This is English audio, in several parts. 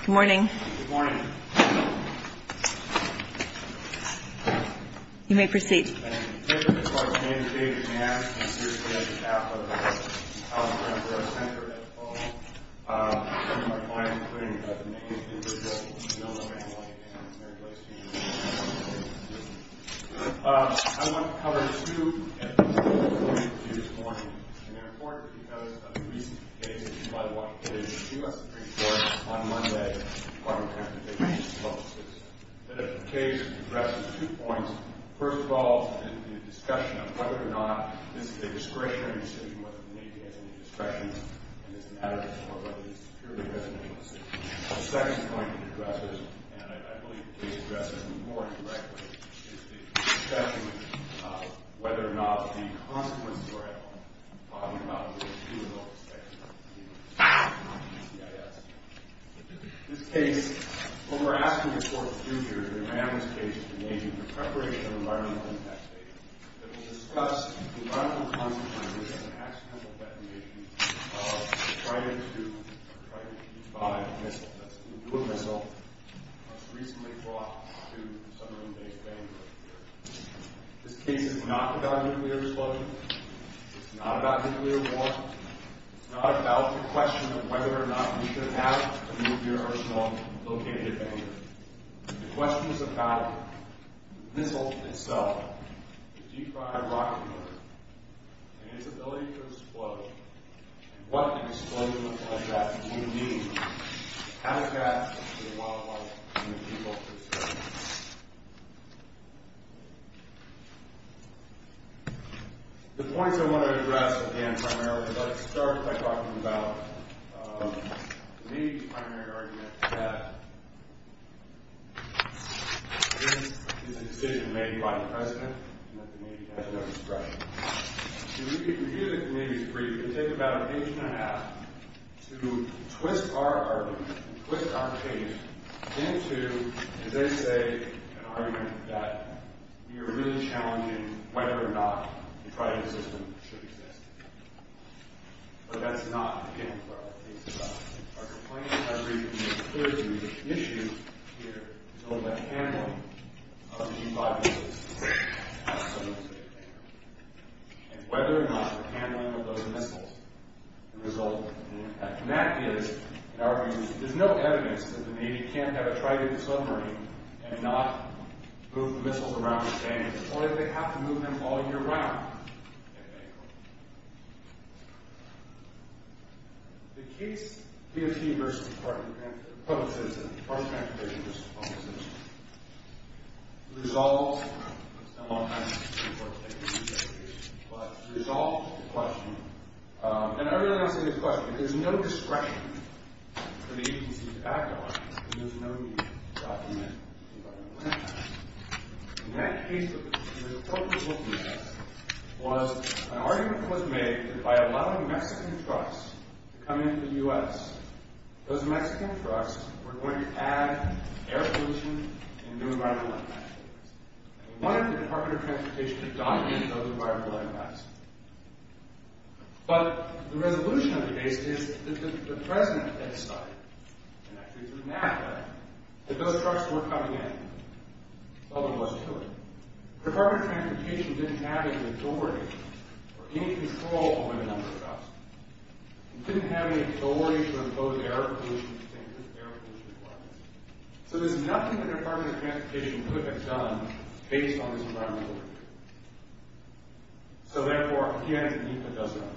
Good morning. You may proceed. As a matter of fact, I'm going to be talking about this on Sunday, but I would like to take this opportunity to address two points. First of all, in the discussion of whether or not this is a discretionary decision whether the Navy has any discretion in this matter, whether it's a purely residential decision. The second point to address is, and I believe to address it more directly, is the discussion of whether or not any consequences are at play. I'm talking about the issue of overspecification of the US Navy and the CIS. In this case, what we're asking the court to do here is to demand this case to the Navy for preparation of environmental impact data that will discuss the environmental consequences of an accidental detonation of a Trident II or Trident V missile. That's a nuclear missile that was recently brought to a submarine-based bank earlier. This case is not about nuclear disclosure. It's not about nuclear war. It's not about the question of whether or not you can have a nuclear arsenal located anywhere. The question is about the missile itself, the DeFry rocket motor, and its ability to explode, and what an explosion like that would mean to the habitat, to the wildlife, and the people of this country. The points I want to address, again, primarily, let's start by talking about the Navy's primary argument that this is a decision made by the President and that the Navy has no discretion. If we review the Navy's brief, it would take about an inch and a half to twist our argument, twist our case into, as they say, an argument that we are really challenging whether or not the Trident system should exist. But that's not, again, where our case is at. Our complaint, I agree with you, is clear to you that the issue here is only about the handling of the G-5 missiles and whether or not the handling of those missiles will result in an impact. And that is, in our view, there's no evidence that the Navy can't have a Trident submarine and not move the missiles around the stand, or that they have to move them all year round. The case, BFG versus the Department of the Public Citizen, the Department of the Public Citizen, resolves, it's been a long time since we've worked together, but it resolves the question. And I really want to say this question. If there's no discretion for the agency to act on it, then there's no need to document environmental impacts. In that case, what we had was an argument was made that by allowing Mexican trucks to come into the U.S., those Mexican trucks were going to add air pollution and do environmental impacts. And we wanted the Department of Transportation to document those environmental impacts. But the resolution of the case is that the President had decided, and actually through NAPA, that those trucks were coming in, although he wasn't sure. The Department of Transportation didn't have any authority or any control over the number of trucks. They didn't have any authority to impose air pollution, to change those air pollution requirements. So there's nothing that the Department of Transportation could have done based on this environmental review. So therefore, again, NAPA doesn't apply.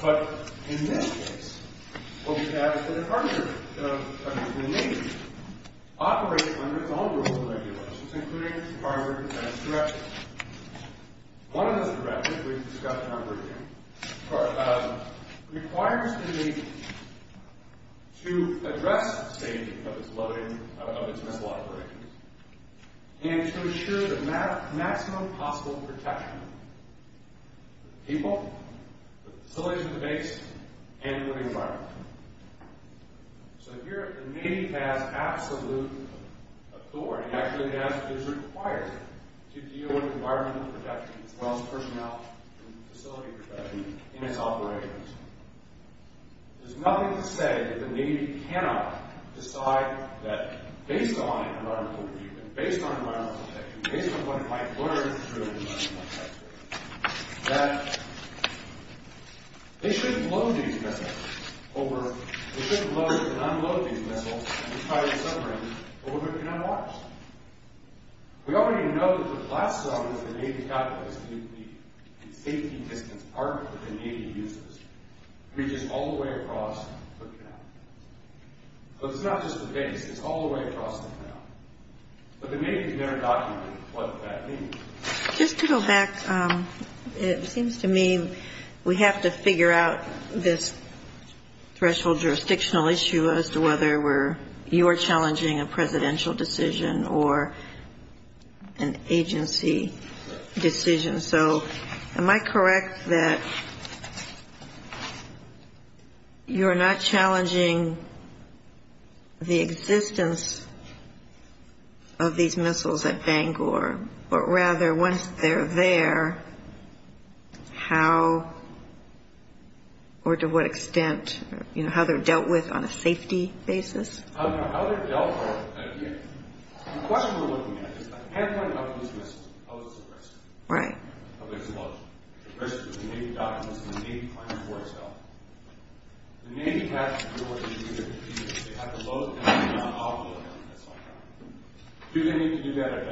But in this case, what we have is that the Department of the Community operates under its own rules and regulations, including the Department of Transportation. One of those directives, which we've discussed in our briefing, requires the agency to address the safety of its missile operations and to ensure the maximum possible protection for the people, the facilities on the base, and the living environment. So here, the Navy has absolute authority, actually is required, to deal with environmental protection as well as personnel and facility protection in its operations. There's nothing to say that the Navy cannot decide that, based on environmental review, based on environmental protection, based on what it might learn through environmental impact studies, that they shouldn't load these missiles, or they shouldn't load or non-load these missiles, and retire the submarines, but we cannot watch them. We already know that the blast zone is the Navy's capital, it's the safety and distance partner that the Navy uses. It reaches all the way across the canal. So it's not just the base, it's all the way across the canal. But the Navy has never documented what that means. Just to go back, it seems to me we have to figure out this threshold jurisdictional issue as to whether you're challenging a presidential decision or an agency decision. So am I correct that you're not challenging the existence of these missiles at Bangor, but rather once they're there, how, or to what extent, you know, how they're dealt with on a safety basis? How they're dealt with, the question we're looking at is, I can't find enough of these missiles to pose a risk. Right. But there's a load. The risk is the Navy documents and the Navy plans for itself. The Navy has to do what it should do. They have to load and they have to non-load them. Do they need to do that at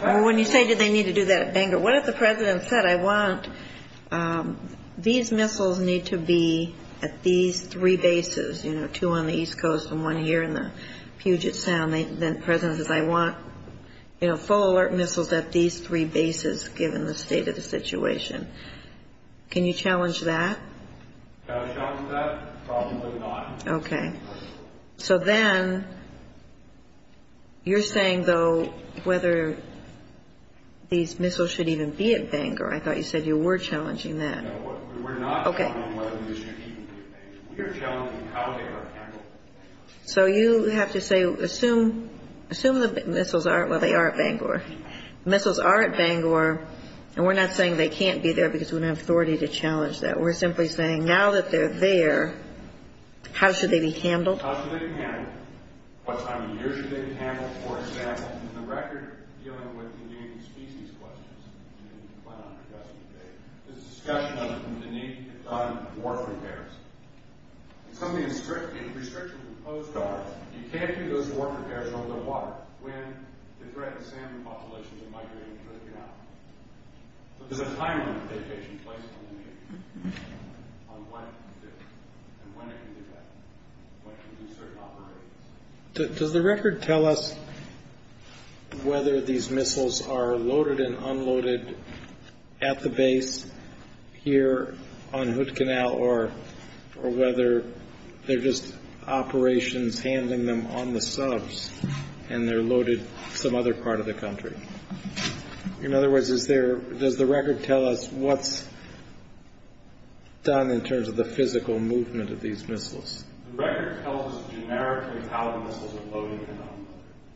Bangor? When you say do they need to do that at Bangor, what if the president said, I want these missiles need to be at these three bases, you know, two on the East Coast and one here in the Puget Sound. Then the president says, I want, you know, full alert missiles at these three bases, given the state of the situation. Can you challenge that? Can I challenge that? Probably not. Okay. So then you're saying, though, whether these missiles should even be at Bangor. I thought you said you were challenging that. No, we're not. Okay. We're challenging how they are handled at Bangor. So you have to say, assume the missiles are, well, they are at Bangor. Missiles are at Bangor, and we're not saying they can't be there because we don't have authority to challenge that. We're simply saying now that they're there, how should they be handled? How should they be handled? What time of year should they be handled? For example, in the record dealing with the native species questions in Klamath yesterday, there's a discussion of the need to fund warfare repairs. In some of the restrictions imposed on us, you can't do those warfare repairs over the water when the threatened salmon populations are migrating to the canal. But there's a time limitation placed on the native species, on when it can do that, when it can do certain operations. Does the record tell us whether these missiles are loaded and unloaded at the base here on Hood Canal or whether they're just operations handling them on the subs and they're loaded some other part of the country? In other words, does the record tell us what's done in terms of the physical movement of these missiles? The record tells us generically how the missiles are loaded and unloaded.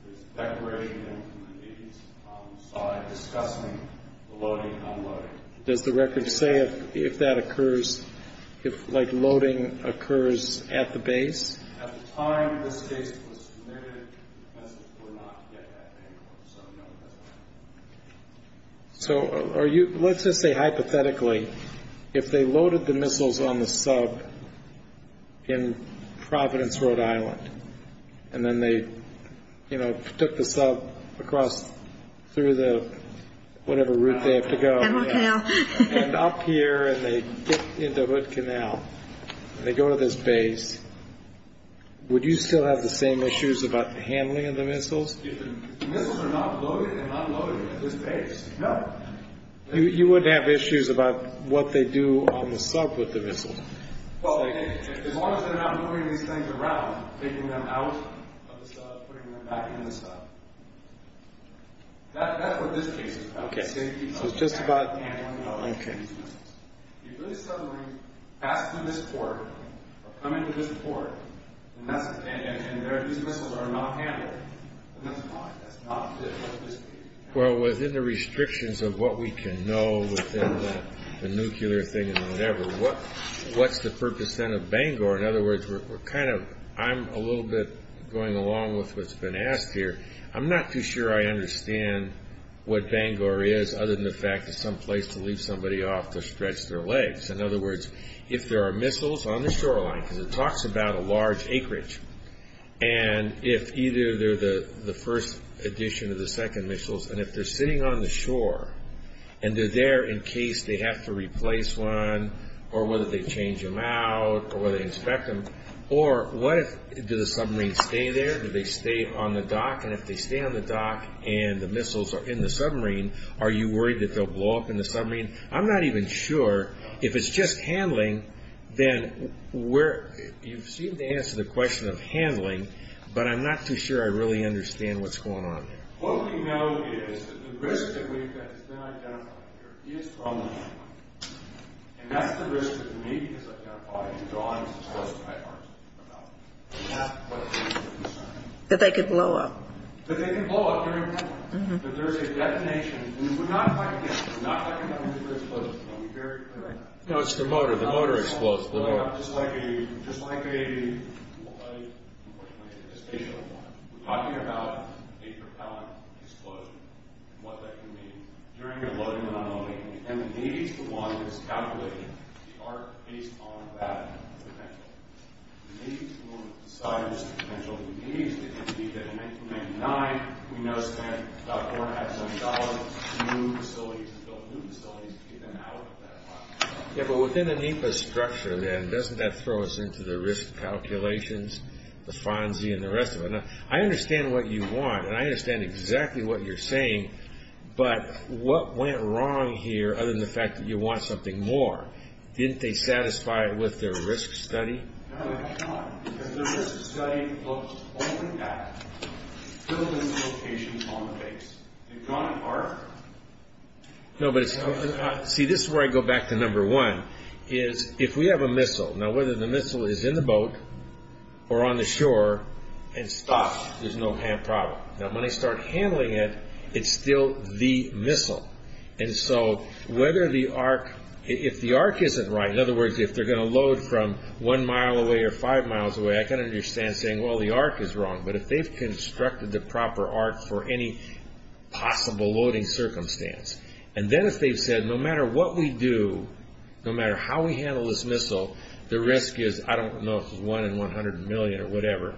There's a declaration in the 80s, discussing the loading and unloading. Does the record say if that occurs, if loading occurs at the base? At the time this case was submitted, the message was not to get that angle. So no, that's not true. So let's just say hypothetically, if they loaded the missiles on the sub in Providence, Rhode Island, and then they took the sub across through whatever route they have to go, and up here, and they get into Hood Canal, and they go to this base, would you still have the same issues about the handling of the missiles? If the missiles are not loaded and unloaded at this base, no. You wouldn't have issues about what they do on the sub with the missiles? As long as they're not moving these things around, taking them out of the sub, putting them back in the sub. That's what this case is about. Okay, so it's just about, okay. If they suddenly pass through this port, or come into this port, and these missiles are not handled, then that's not, that's not good. Well, within the restrictions of what we can know within the nuclear thing and whatever, what's the purpose then of Bangor? In other words, we're kind of, I'm a little bit going along with what's been asked here. I'm not too sure I understand what Bangor is, other than the fact that some place to leave somebody off to stretch their legs. In other words, if there are missiles on the shoreline, because it talks about a large acreage, and if either they're the first edition or the second missiles, and if they're sitting on the shore, and they're there in case they have to replace one, or whether they change them out, or whether they inspect them, or what if, do the submarines stay there? Do they stay on the dock? And if they stay on the dock, and the missiles are in the submarine, are you worried that they'll blow up in the submarine? I'm not even sure. If it's just handling, then we're, you seem to answer the question of handling, but I'm not too sure I really understand what's going on here. What we know is that the risk that we've got is not identified here. It is from the handling. And that's the risk with me, because I've got a body drawn to close to my arms. That they could blow up. That they can blow up during the handling. That there's a detonation. We would not like that. We would not like a nuclear explosion. Let me be very clear on that. No, it's the motor. The motor explodes. Just like a, just like a, we're talking about a propellant explosion, and what that can mean during a loading anomaly. And the Navy's the one that's calculating the arc based on that potential. The Navy's the one that decides the potential. The Navy's the entity that in 1999, we know spent about $470,000 to build new facilities to get them out at that time. Yeah, but within the NEPA structure, then, doesn't that throw us into the risk calculations, the FONSI, and the rest of it? Now, I understand what you want, and I understand exactly what you're saying, but what went wrong here other than the fact that you want something more? Didn't they satisfy it with their risk study? No, they did not. Because their risk study looks only at building locations on the base. They've gone farther. No, but it's, see, this is where I go back to number one, is if we have a missile. Now, whether the missile is in the boat or on the shore and stopped, there's no hand problem. Now, when I start handling it, it's still the missile. And so whether the arc, if the arc isn't right, in other words, if they're going to load from one mile away or five miles away, I can understand saying, well, the arc is wrong. But if they've constructed the proper arc for any possible loading circumstance, and then if they've said, no matter what we do, no matter how we handle this missile, the risk is, I don't know, 1 in 100 million or whatever,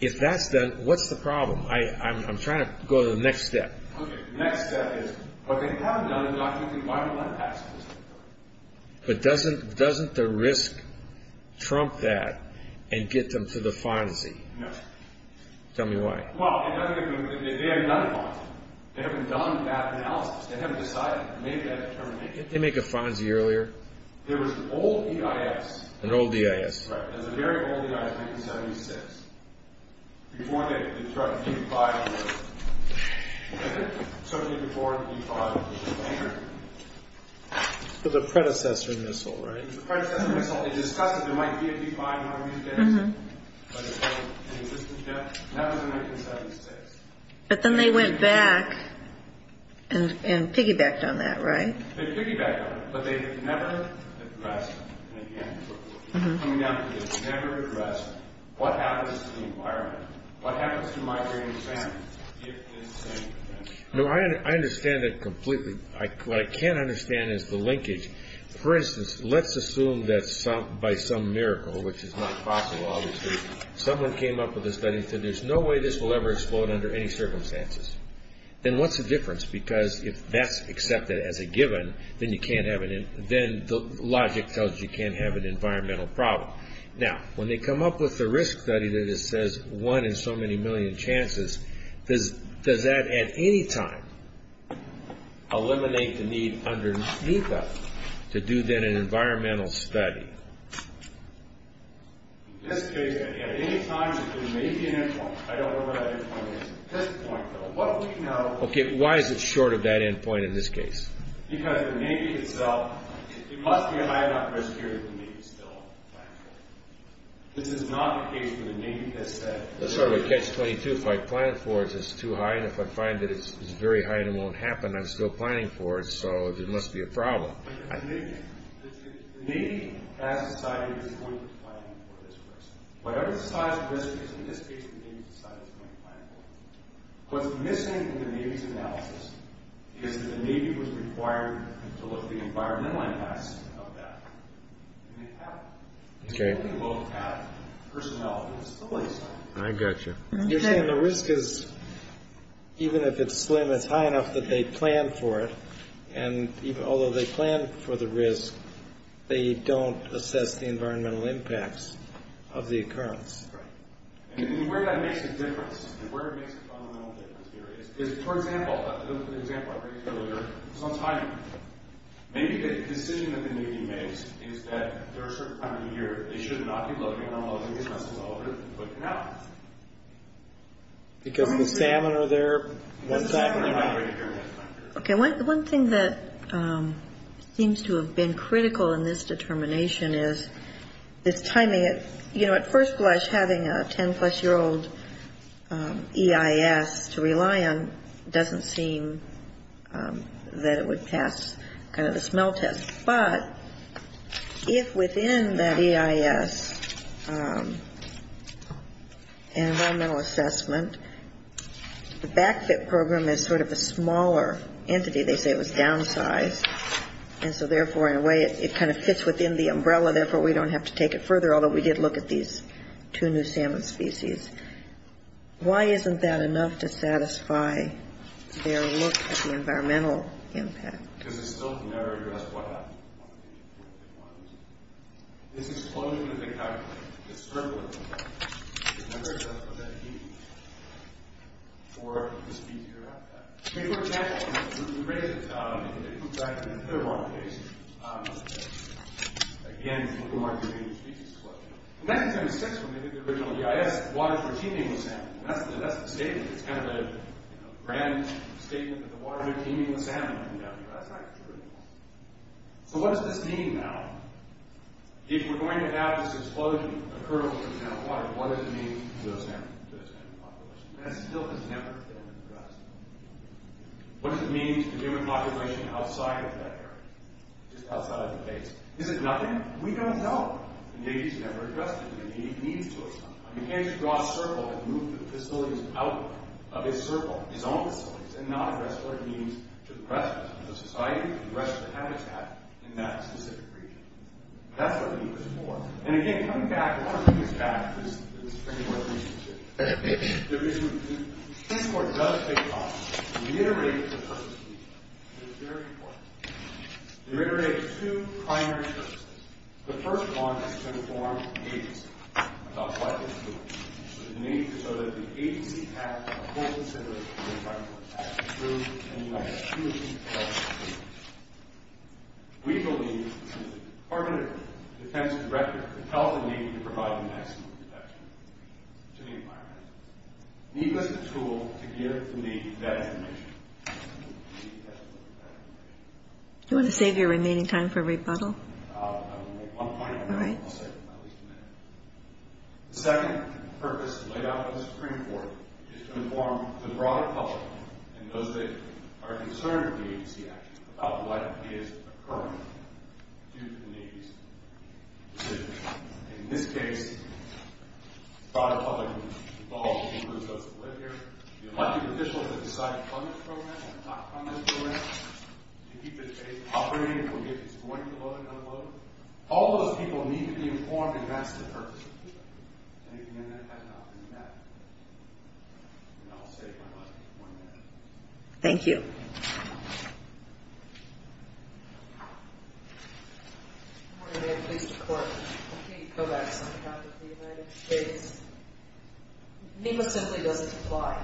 if that's done, what's the problem? I'm trying to go to the next step. Okay. The next step is, what they have done is document the environmental impact statistics. But doesn't the risk trump that and get them to the FONSI? No. Tell me why. Well, they haven't done a FONSI. They haven't done that analysis. They haven't decided, made that determination. Didn't they make a FONSI earlier? There was an old EIS. An old EIS. Right. There's a very old EIS, 1976. Before they constructed D-5. Certainly before D-5. The predecessor missile, right? The predecessor missile. They discussed it. There might be a D-5 one of these days. But it doesn't exist yet. That was in 1976. But then they went back and piggybacked on that, right? They piggybacked on it. But they never addressed, and again, coming down to this, never addressed what happens to the environment, what happens to migrating sand if this thing. No, I understand it completely. What I can't understand is the linkage. For instance, let's assume that by some miracle, which is not possible, obviously, someone came up with a study and said, there's no way this will ever explode under any circumstances. Then what's the difference? Because if that's accepted as a given, then the logic tells you you can't have an environmental problem. Now, when they come up with the risk study that it says one in so many million chances, does that at any time eliminate the need underneath that to do then an environmental study? In this case, at any time, there may be an impact. I don't know what that impact is at this point, though. Okay, why is it short of that end point in this case? Because the Navy itself, it must be a high enough risk here that the Navy is still planning for it. This is not the case where the Navy has said, I'm sorry, but Catch-22, if I plan for it, it's too high, and if I find that it's very high and it won't happen, I'm still planning for it, so there must be a problem. The Navy has decided it's going to plan for this risk. Whatever the size of the risk is in this case, the Navy has decided it's going to plan for it. What's missing in the Navy's analysis is that the Navy was required to look at the environmental impacts of that, and they haven't. Okay. They both have personnel. I got you. You're saying the risk is, even if it's slim, it's high enough that they plan for it, and although they plan for the risk, they don't assess the environmental impacts of the occurrence. Right. And where that makes a difference, where it makes a fundamental difference here is, for example, the example I raised earlier, it's on timing. Maybe the decision that the Navy makes is that there are certain times of the year they should not be looking, I don't know if the business is over, but no. Because the salmon are there. Because the salmon are there. Okay. One thing that seems to have been critical in this determination is this timing. You know, at first blush, having a 10-plus-year-old EIS to rely on doesn't seem that it would pass kind of a smell test. But if within that EIS and environmental assessment, the back-fit program is sort of a smaller entity, they say it was downsized, and so therefore, in a way, it kind of fits within the umbrella, so therefore, we don't have to take it further, although we did look at these two new salmon species. Why isn't that enough to satisfy their look at the environmental impact? Because it still can never address what happened. This explosion of the calculate, the circling of that, it can never address what that means for the species around that. I mean, for example, if you raise it to, I don't know if you can do that, it's a bit of a wrong case. Again, it's a little more convenient to speak to this question. The next time it sticks, when we do the original EIS, the waters are teeming with salmon. That's the statement. It's kind of a grand statement that the waters are teeming with salmon. That's not true. So what does this mean now? If we're going to have this explosion occur over the amount of water, what does it mean to those salmon populations? That still has never been addressed. What does it mean to the human population outside of that area, just outside of the base? Is it nothing? We don't know. Maybe it's never addressed what it means to us. You can't just draw a circle and move the facilities out of its circle, its own facilities, and not address what it means to the presence of society, to the rest of the habitat in that specific region. That's what we need to explore. And again, coming back, I want to bring this back, because there's three more things to do. The first one is to inform the agency about what it's doing, so that the agency has a full consideration of the environmental impact, and you have a true health experience. We believe that the Department of Defense's record could tell the Navy to provide maximum protection to the environment. The Navy has a tool to give the Navy that information. The Navy has to look at that information. Do you want to save your remaining time for rebuttal? I'll make one point, and then I'll save at least a minute. The second purpose laid out in the Supreme Court is to inform the broader public and those that are concerned with the agency action about what is occurring due to the Navy's decision. In this case, the broader public involved include those that live here, the elected officials that decide on this program, and talk on this program, to keep this agency operating, and we'll get this going to load and unload. All those people need to be informed, and that's the purpose. Anything in that has not been met. And I'll save my last one minute. Thank you. Thank you. Good morning. May it please the Court. Kate Kovacs on behalf of the United States. NEMA simply doesn't apply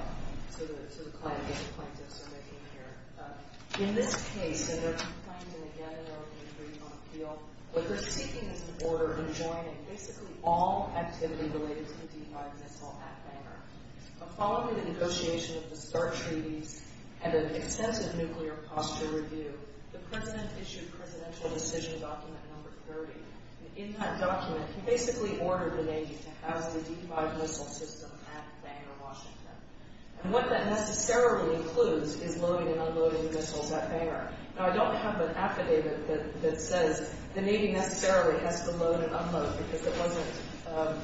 to the claims that the plaintiffs are making here. In this case, and there are two claims in the gathering, and three on appeal, what we're seeking is an order enjoining basically all activity related to the D-5 missile at Bangor. Following the negotiation of the START treaties and an extensive nuclear posture review, the President issued Presidential Decision Document Number 30. In that document, he basically ordered the Navy to house the D-5 missile system at Bangor, Washington. And what that necessarily includes is loading and unloading missiles at Bangor. Now, I don't have an affidavit that says the Navy necessarily has to load and unload because it wasn't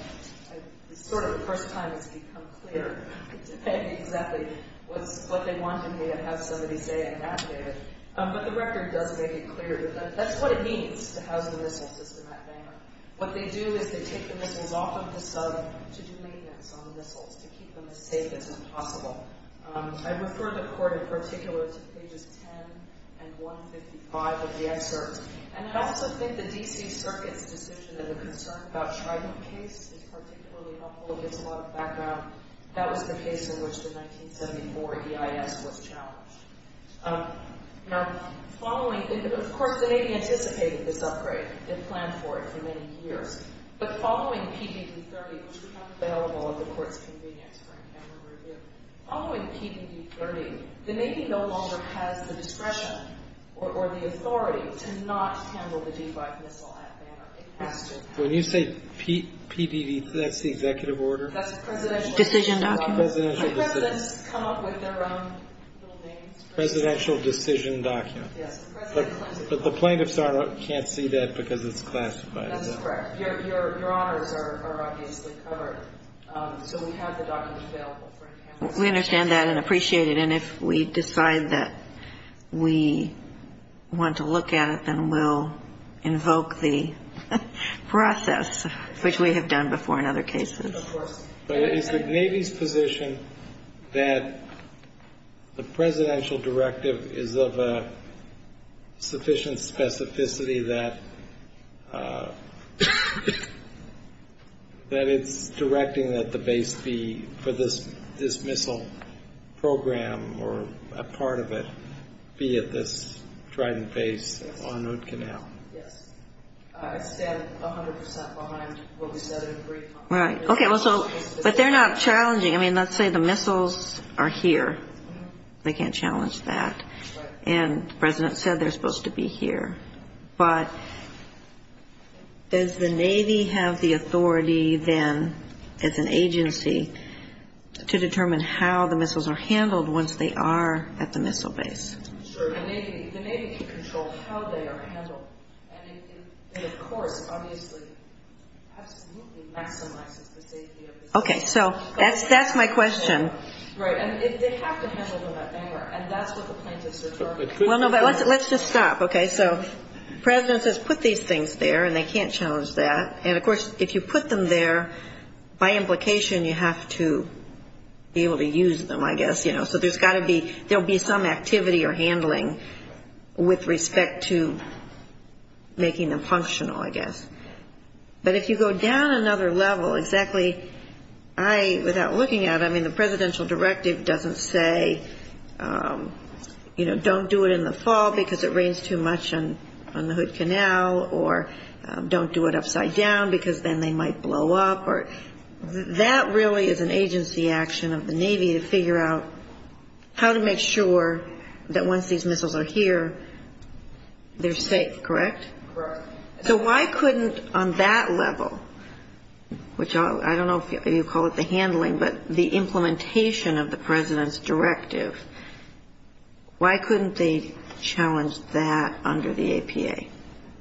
sort of the first time it's become clear. It didn't exactly what they wanted me to have somebody say in that day. But the record does make it clear that that's what it means to house the missile system at Bangor. What they do is they take the missiles off of the sub to do maintenance on the missiles to keep them as safe as possible. I refer the Court in particular to pages 10 and 155 of the excerpt. And I also think the D.C. Circuit's decision in the concern about Schreiber's case is particularly helpful. It gives a lot of background. That was the case in which the 1974 EIS was challenged. Now, of course, the Navy anticipated this upgrade. It planned for it for many years. But following PDD 30, which we have available at the Court's convenience for a camera review, following PDD 30, the Navy no longer has the discretion or the authority to not handle the D-5 missile at Bangor. When you say PDD, that's the executive order? That's the presidential decision document. So presidents come up with their own little names. Presidential decision document. Yes. But the plaintiffs can't see that because it's classified. That's correct. Your honors are obviously covered. So we have the document available for a camera review. We understand that and appreciate it. And if we decide that we want to look at it, then we'll invoke the process, which we have done before in other cases. Of course. But is the Navy's position that the presidential directive is of a sufficient program or a part of it be at this Trident Base on Hoot Canal? Yes. I stand 100% behind what we said in brief. Right. Okay. But they're not challenging. I mean, let's say the missiles are here. They can't challenge that. Right. And the president said they're supposed to be here. But does the Navy have the authority, then, as an agency, to determine how the missiles are handled once they are at the missile base? Sure. The Navy can control how they are handled. And it, of course, obviously absolutely maximizes the safety of the missile. Okay. So that's my question. Right. And they have to handle them that manner. And that's what the plaintiffs are talking about. Let's just stop. Okay. So the president says put these things there, and they can't challenge that. And, of course, if you put them there, by implication, you have to be able to use them, I guess, you know. So there's got to be some activity or handling with respect to making them functional, I guess. But if you go down another level, exactly, I, without looking at it, I mean, the presidential directive doesn't say, you know, don't do it in the fall because it rains too much on the Hood Canal, or don't do it upside down because then they might blow up, or that really is an agency action of the Navy to figure out how to make sure that once these missiles are here, they're safe, correct? Correct. So why couldn't, on that level, which I don't know if you call it the handling, but the implementation of the president's directive, why couldn't they challenge that under the APA?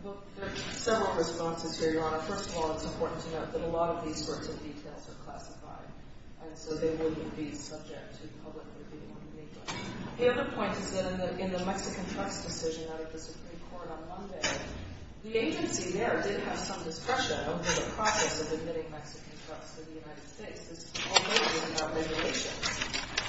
Well, there are several responses here, Your Honor. First of all, it's important to note that a lot of these sorts of details are classified, and so they wouldn't be subject to public opinion. The other point is that in the Mexican trust decision out of the Supreme Court on Monday, the agency there did have some discretion over the process of admitting Mexican trusts to the United States. This was already in our regulations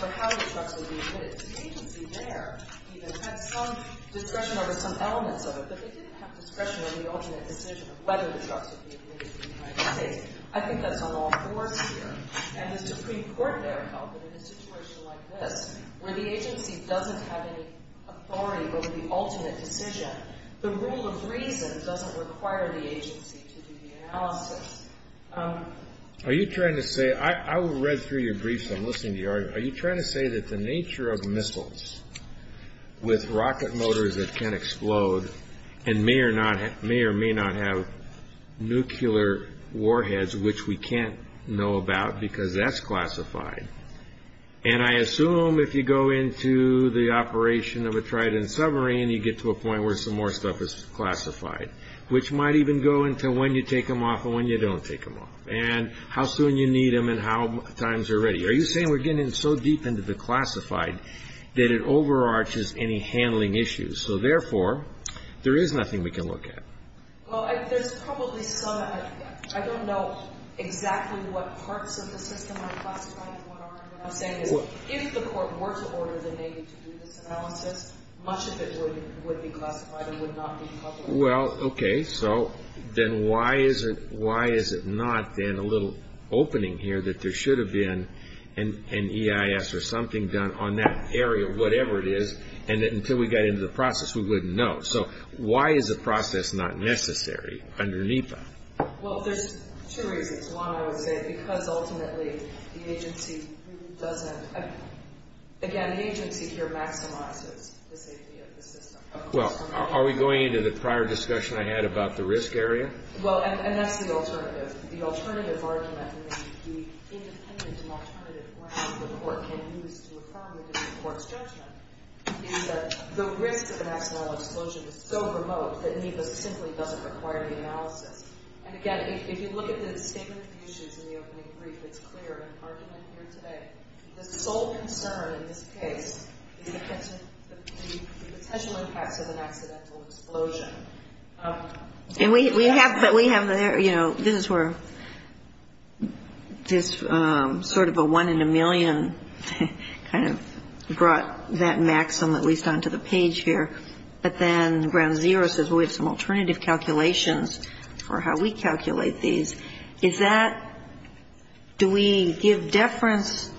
for how the trusts would be admitted. The agency there even had some discretion over some elements of it, but they didn't have discretion over the ultimate decision of whether the trusts would be admitted to the United States. I think that's on all fours here. And the Supreme Court there held that in a situation like this, where the agency doesn't have any authority over the ultimate decision, the rule of reason doesn't require the agency to do the analysis. Are you trying to say – I read through your briefs. I'm listening to your argument. Are you trying to say that the nature of missiles with rocket motors that can explode and may or may not have nuclear warheads, which we can't know about because that's classified. And I assume if you go into the operation of a Trident submarine, you get to a point where some more stuff is classified, which might even go into when you take them off and when you don't take them off and how soon you need them and how times are ready. Are you saying we're getting so deep into the classified that it overarches any handling issues? So, therefore, there is nothing we can look at. Well, there's probably some. I don't know exactly what parts of the system are classified and what aren't. What I'm saying is if the Court were to order the Navy to do this analysis, much of it would be classified and would not be public. Well, okay, so then why is it not then a little opening here that there should have been an EIS or something done on that area, whatever it is, and that until we got into the process we wouldn't know? So why is the process not necessary underneath that? Well, there's two reasons. One, I would say, because ultimately the agency doesn't, again, the agency here maximizes the safety of the system. Well, are we going into the prior discussion I had about the risk area? Well, and that's the alternative. The alternative argument that the independent and alternative round of the Court can use to affirm the Court's judgment is that the risk of an accidental explosion is so remote that NEPA simply doesn't require the analysis. And, again, if you look at the statement of issues in the opening brief, it's clear in the argument here today. The sole concern in this case is the potential impacts of an accidental explosion. And we have, you know, this is where this sort of a one in a million kind of brought that maxim at least onto the page here. But then ground zero says we have some alternative calculations for how we calculate these. Do we give deference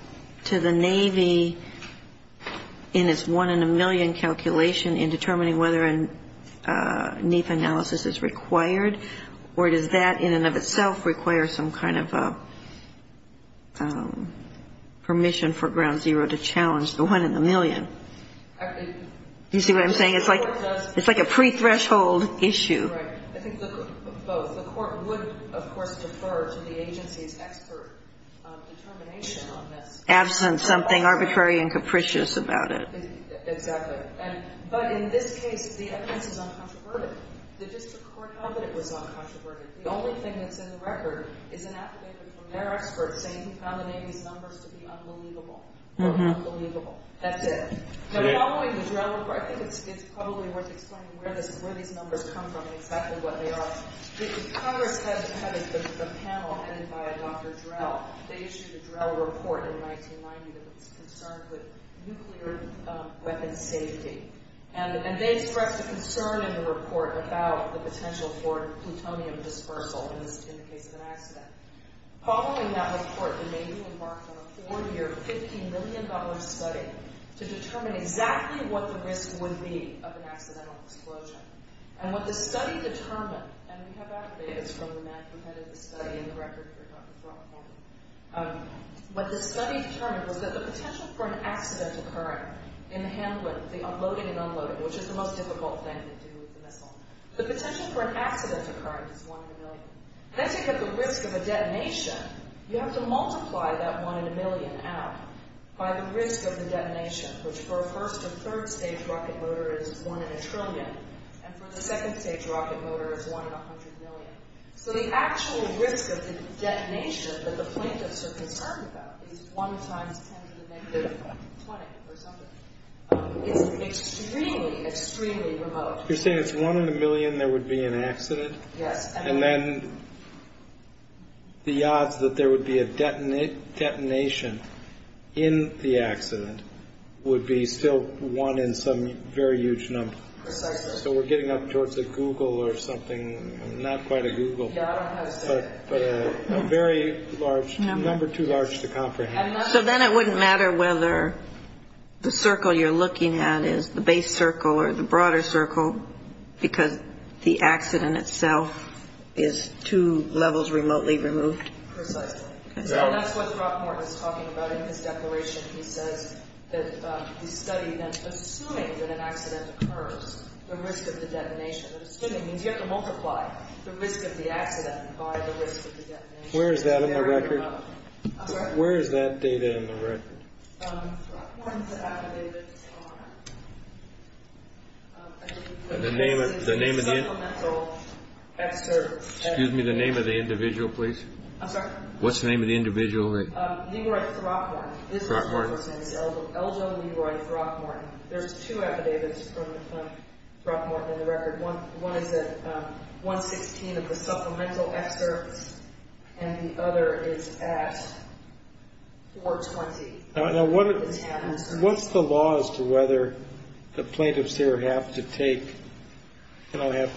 to the Navy in its one in a million calculation in determining whether a NEPA analysis is required, or does that in and of itself require some kind of permission for ground zero to challenge the one in a million? You see what I'm saying? It's like a pre-threshold issue. Right. I think both. The Court would, of course, defer to the agency's expert determination on this. Absent something arbitrary and capricious about it. Exactly. But in this case, the offense is uncontroverted. The district court held that it was uncontroverted. The only thing that's in the record is an affidavit from their expert saying he found the Navy's numbers to be unbelievable. Unbelievable. That's it. Following the Drell report, I think it's probably worth explaining where these numbers come from and exactly what they are. Congress had a panel headed by Dr. Drell. They issued a Drell report in 1990 that was concerned with nuclear weapon safety. And they expressed a concern in the report about the potential for plutonium dispersal in the case of an accident. Following that report, the Navy embarked on a four-year, $15 million study to determine exactly what the risk would be of an accidental explosion. And what the study determined, and we have affidavits from the man who headed the study in the record for Dr. Drell, what the study determined was that the potential for an accidental current in the Hamlin, the unloaded and unloaded, which is the most difficult thing to do with a missile, the potential for an accidental current is one in a million. And as you get the risk of a detonation, you have to multiply that one in a million out by the risk of the detonation, which for a first- or third-stage rocket motor is one in a trillion, and for the second-stage rocket motor is one in a hundred million. So the actual risk of the detonation that the plaintiffs are concerned about is one times ten to the negative 20 or something. It's extremely, extremely remote. You're saying it's one in a million there would be an accident? Yes. And then the odds that there would be a detonation in the accident would be still one in some very huge number. Precisely. So we're getting up towards a Google or something, not quite a Google, but a very large number, too large to comprehend. So then it wouldn't matter whether the circle you're looking at is the base circle or the broader circle because the accident itself is two levels remotely removed? Precisely. And that's what Brockmore is talking about in his declaration. He says that the study then, assuming that an accident occurs, the risk of the detonation, assuming means you have to multiply the risk of the accident by the risk of the detonation. Where is that in the record? Where is that data in the record? The name of the individual, please. I'm sorry? What's the name of the individual? Leroy Brockmore. Eljo Leroy Brockmore. There's two affidavits from Brockmore in the record. One is at 116 of the supplemental excerpts and the other is at 420. Now, what's the law as to whether the plaintiffs here have to take or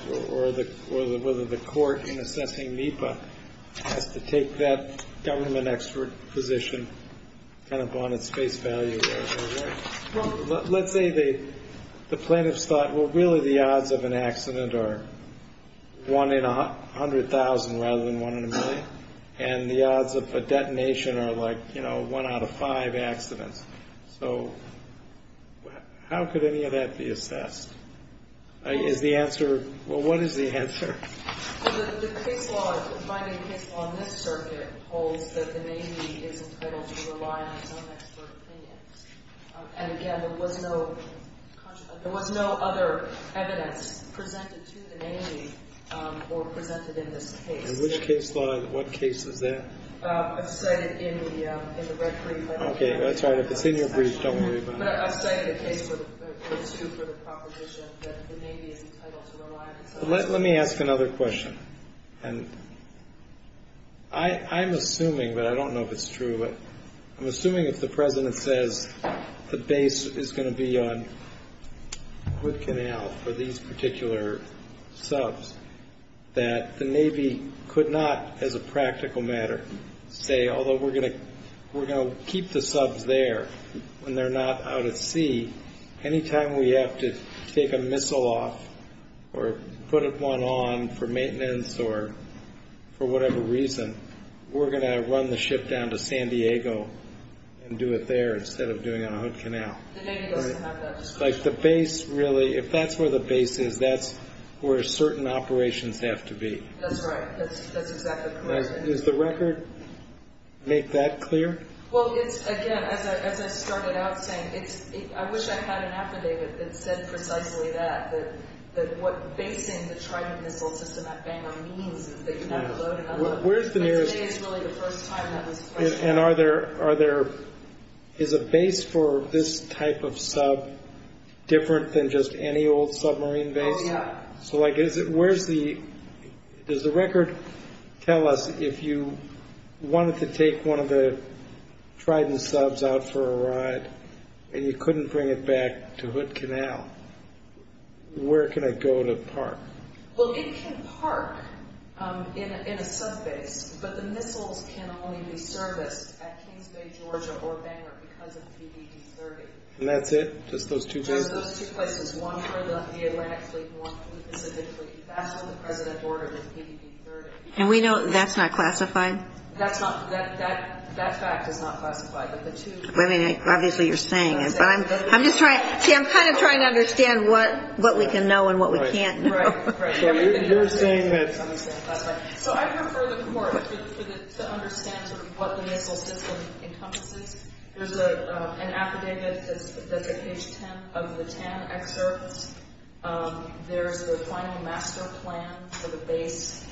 whether the court in assessing NEPA has to take that government expert position kind of on its face value? Let's say the plaintiffs thought, well, really the odds of an accident are one in 100,000 rather than one in a million and the odds of a detonation are like, you know, one out of five accidents. So how could any of that be assessed? Is the answer, well, what is the answer? The case law, the binding case law in this circuit holds that the Navy is entitled to rely on its own expert opinion. And, again, there was no other evidence presented to the Navy or presented in this case. In which case law? What case is that? I've cited in the record. Okay, that's right. If it's in your brief, don't worry about it. But I've cited a case or two for the proposition that the Navy is entitled to rely on its own expert opinion. Let me ask another question. And I'm assuming, but I don't know if it's true, but I'm assuming if the President says the base is going to be on Wood Canal for these particular subs, that the Navy could not as a practical matter say, although we're going to keep the subs there when they're not out at sea, anytime we have to take a missile off or put one on for maintenance or for whatever reason, we're going to run the ship down to San Diego and do it there instead of doing it on Wood Canal. The Navy doesn't have that discretion. Like the base, really, if that's where the base is, that's where certain operations have to be. That's right. That's exactly correct. Does the record make that clear? Well, it's, again, as I started out saying, I wish I had an affidavit that said precisely that, that what basing the Trident Missile System at Bangor means is that you have to load and unload. But today is really the first time that was questioned. And are there, is a base for this type of sub different than just any old submarine base? Oh, yeah. So, like, where's the, does the record tell us if you wanted to take one of the Trident subs out for a ride and you couldn't bring it back to Wood Canal, where can it go to park? Well, it can park in a sub base, but the missiles can only be serviced at Kings Bay, Georgia or Bangor because of PDD-30. And that's it? Just those two places? Just those two places. One for the Atlantic Fleet and one for the Pacific Fleet. That's what the President ordered with PDD-30. And we know that's not classified? That's not, that fact is not classified. But the two- Well, I mean, obviously you're saying it. But I'm just trying, see, I'm kind of trying to understand what we can know and what we can't know. Right, right. So you're saying that- So I'd refer the court to understand sort of what the missile system encompasses. There's an affidavit that's at page 10 of the TAN excerpt. There's the final master plan for the base.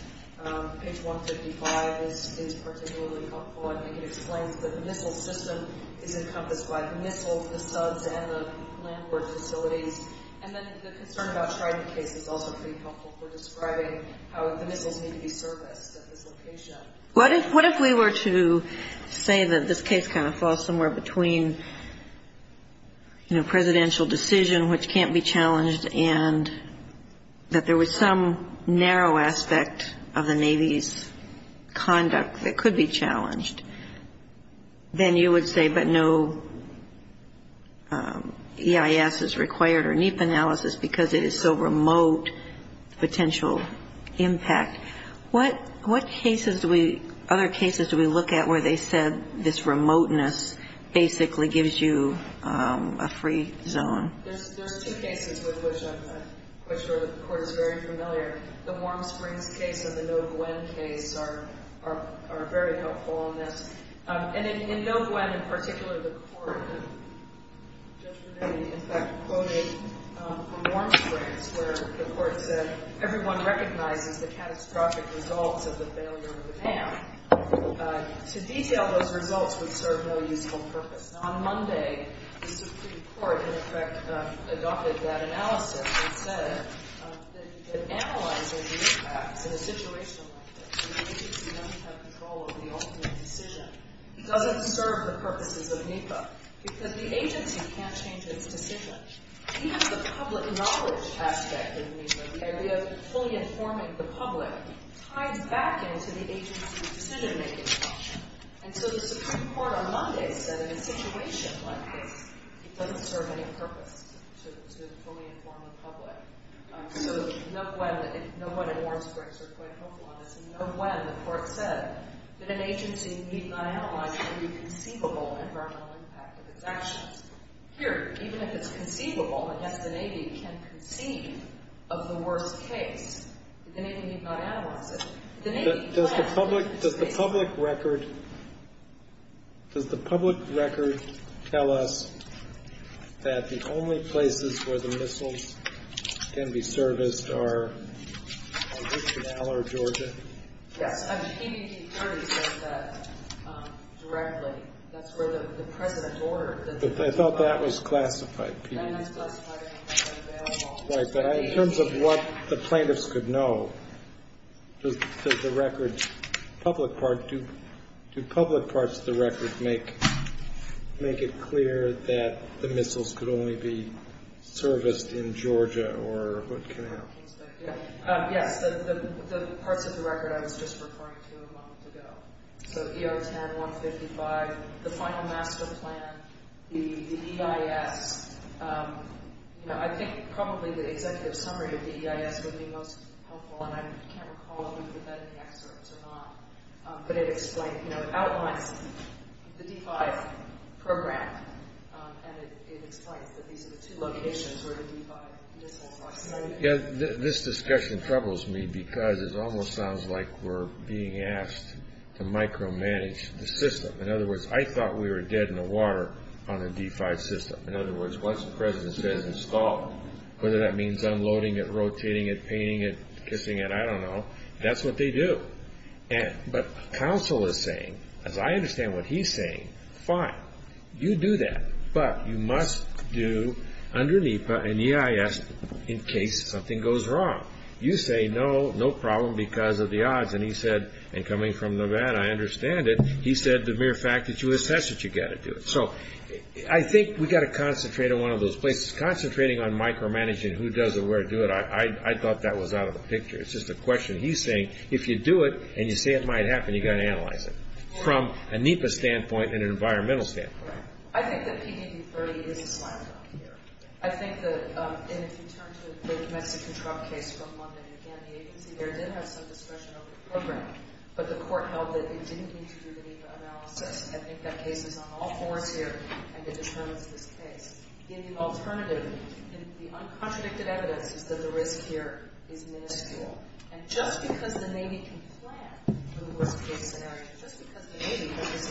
Page 155 is particularly helpful. I think it explains that the missile system is encompassed by the missiles, the subs, and the landward facilities. And then the concern about Trident case is also pretty helpful for describing how the missiles need to be serviced at this location. What if we were to say that this case kind of falls somewhere between, you know, presidential decision, which can't be challenged, and that there was some narrow aspect of the Navy's conduct that could be challenged? Then you would say, but no EIS is required or NEPA analysis because it is so remote, potential impact. What other cases do we look at where they said this remoteness basically gives you a free zone? There's two cases with which I'm quite sure the court is very familiar. The Warm Springs case and the No Gwen case are very helpful in this. And in No Gwen in particular, the court, Judge Renee, in fact, quoted the Warm Springs, where the court said everyone recognizes the catastrophic results of the failure of the dam. To detail those results would serve no useful purpose. On Monday, the Supreme Court, in effect, adopted that analysis and said that analyzing the impacts in a situation like this where the agency doesn't have control over the ultimate decision doesn't serve the purposes of NEPA because the agency can't change its decision. Even the public knowledge aspect in NEPA, the idea of fully informing the public, ties back into the agency's decision-making function. And so the Supreme Court on Monday said in a situation like this, it doesn't serve any purpose to fully inform the public. So No Gwen and Warm Springs are quite helpful on this. In No Gwen, the court said that an agency need not analyze any conceivable environmental impact of its actions. Here, even if it's conceivable, and, yes, the Navy can conceive of the worst case, the Navy need not analyze it. The Navy plans to analyze it. Does the public record tell us that the only places where the missiles can be serviced are Houston, Aller, Georgia? Yes. I mean, PDD 30 says that directly. That's where the president ordered. I thought that was classified. That was classified. In terms of what the plaintiffs could know, does the record, public part, do public parts of the record make it clear that the missiles could only be serviced in Georgia or what can happen? Yes, the parts of the record I was just referring to a moment ago. So ER-10-155, the final master plan, the EIS. You know, I think probably the executive summary of the EIS would be most helpful, and I can't recall if we put that in the excerpts or not. But it explains, you know, it outlines the D-5 program, and it explains that these are the two locations where the D-5 missiles are. This discussion troubles me because it almost sounds like we're being asked to micromanage the system. In other words, I thought we were dead in the water on a D-5 system. In other words, once the president says install, whether that means unloading it, rotating it, painting it, kissing it, I don't know. That's what they do. But counsel is saying, as I understand what he's saying, fine, you do that, but you must do under NEPA an EIS in case something goes wrong. You say no, no problem because of the odds. And he said, and coming from Nevada, I understand it. He said the mere fact that you assess it, you've got to do it. So I think we've got to concentrate on one of those places. Concentrating on micromanaging, who does it, where to do it, I thought that was out of the picture. It's just a question. He's saying if you do it and you say it might happen, you've got to analyze it from a NEPA standpoint and an environmental standpoint. I think that PDD-30 is a slam dunk here. I think that if you turn to the big Mexican truck case from London, again, the agency there did have some discretion over the program, but the court held that it didn't need to do the NEPA analysis. I think that case is on all fours here, and it determines this case. The alternative, the uncontradicted evidence is that the risk here is minuscule. And just because the Navy can plan the worst-case scenario, just because the Navy has this incredible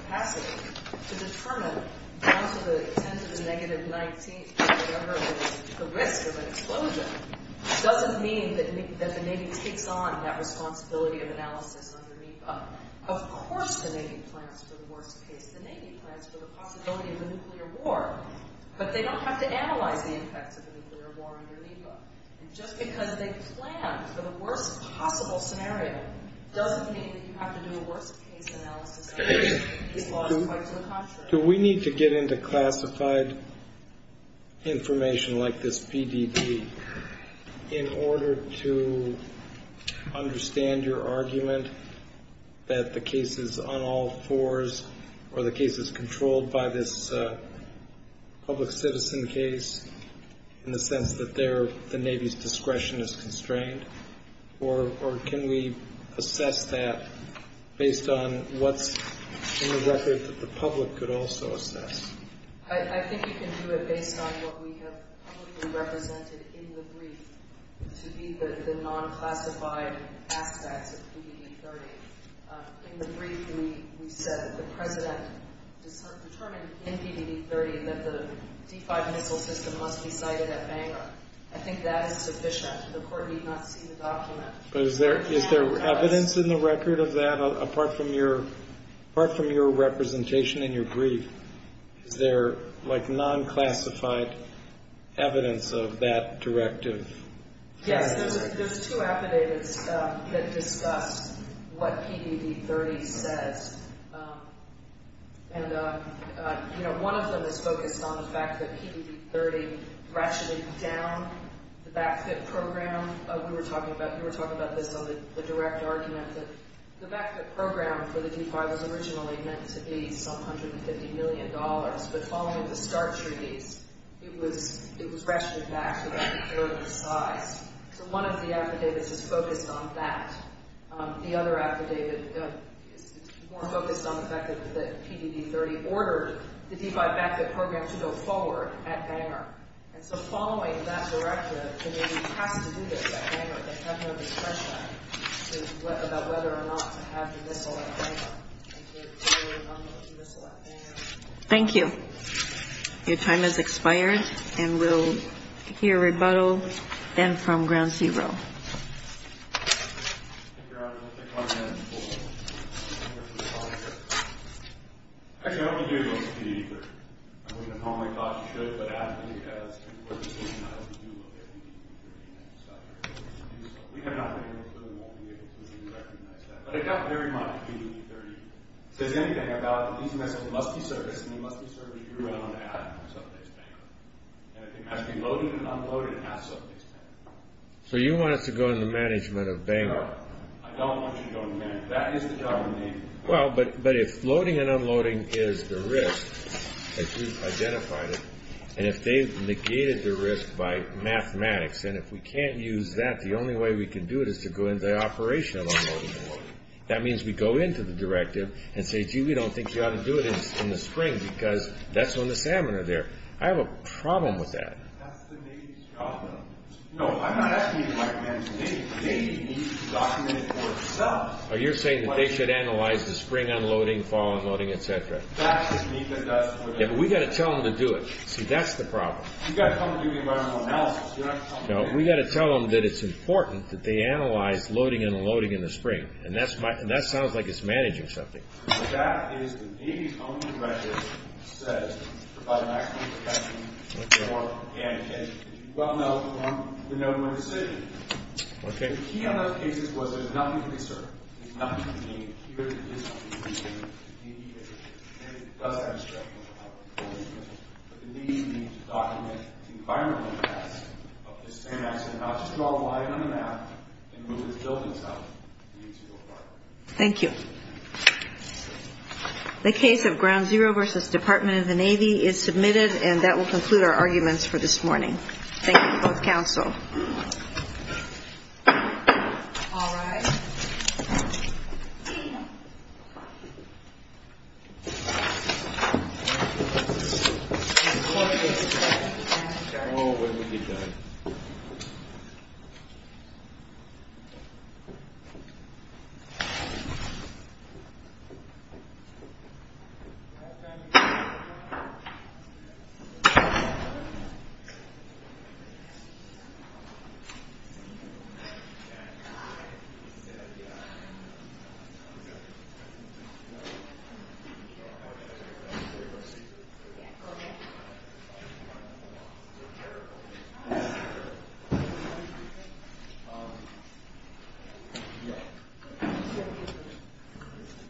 capacity to determine down to the extent of a negative 19, whatever the risk of an explosion, doesn't mean that the Navy takes on that responsibility of analysis under NEPA. Of course the Navy plans for the worst case. The Navy plans for the possibility of a nuclear war, but they don't have to analyze the impacts of a nuclear war under NEPA. And just because they plan for the worst possible scenario doesn't mean that you have to do a worst-case analysis. This law is quite to the contrary. Do we need to get into classified information like this PDD in order to understand your argument that the case is on all fours or the case is controlled by this public citizen case in the sense that the Navy's discretion is constrained? Or can we assess that based on what's in the record that the public could also assess? I think you can do it based on what we have publicly represented in the brief to be the non-classified aspects of PDD 30. In the brief we said that the President determined in PDD 30 that the D-5 missile system must be cited at Bangor. I think that is sufficient. The Court need not see the document. But is there evidence in the record of that apart from your representation in your brief? Is there, like, non-classified evidence of that directive? Yes. There's two affidavits that discuss what PDD 30 says. And, you know, one of them is focused on the fact that PDD 30 ratcheted down the back-fit program. We were talking about this on the direct argument that the back-fit program for the D-5 was originally meant to be some $150 million. But following the START treaties, it was ratcheted back to about a third of the size. So one of the affidavits is focused on that. The other affidavit is more focused on the fact that PDD 30 ordered the D-5 back-fit program to go forward at Bangor. And so following that directive, the Navy has to do this at Bangor. They have no discretion about whether or not to have the missile at Bangor until they rebuttal to missile at Bangor. Thank you. Your time has expired, and we'll hear rebuttal then from Ground Zero. Thank you, Robert. We'll take one more minute before we go to the public. Actually, I hope you do go to PDD 30. I mean, the public thought you should, but AFNI has important decisions, and I hope you do look at PDD 30 and decide whether or not to do so. We have not been able to and won't be able to, and we recognize that. But it got very much to PDD 30. It says anything about that these missiles must be serviced, and they must be serviced through and on at and from sub-base Bangor. And it has to be loaded and unloaded at sub-base Bangor. So you want us to go to the management of Bangor? No, I don't want you to go to the management. That is the job of the Navy. Well, but if loading and unloading is the risk, as you've identified it, and if they've negated the risk by mathematics, and if we can't use that, the only way we can do it is to go into the operational unloading board. That means we go into the directive and say, gee, we don't think you ought to do it in the spring because that's when the salmon are there. I have a problem with that. That's the Navy's job, though. No, I'm not asking you to recommend to the Navy. The Navy needs to document it for itself. Oh, you're saying that they should analyze the spring unloading, fall unloading, et cetera. That's what NECA does. Yeah, but we've got to tell them to do it. See, that's the problem. You've got to tell them to do the environmental analysis. You're not telling them to do it. No, we've got to tell them that it's important that they analyze loading and unloading in the spring. And that sounds like it's managing something. That is the Navy's only directive that says provide maximum protection for canned fish. You well know from the November decision. Okay. The key on those cases was there's nothing to conserve. There's nothing to maintain. Here is something we can mediate. And it does have a structural obligation. But the Navy needs to document the environmental impacts of the same accident, not just draw a line on the map and move it to building site. Thank you. The case of Ground Zero versus Department of the Navy is submitted. And that will conclude our arguments for this morning. Thank you, both counsel. All rise. Thank you. Thank you.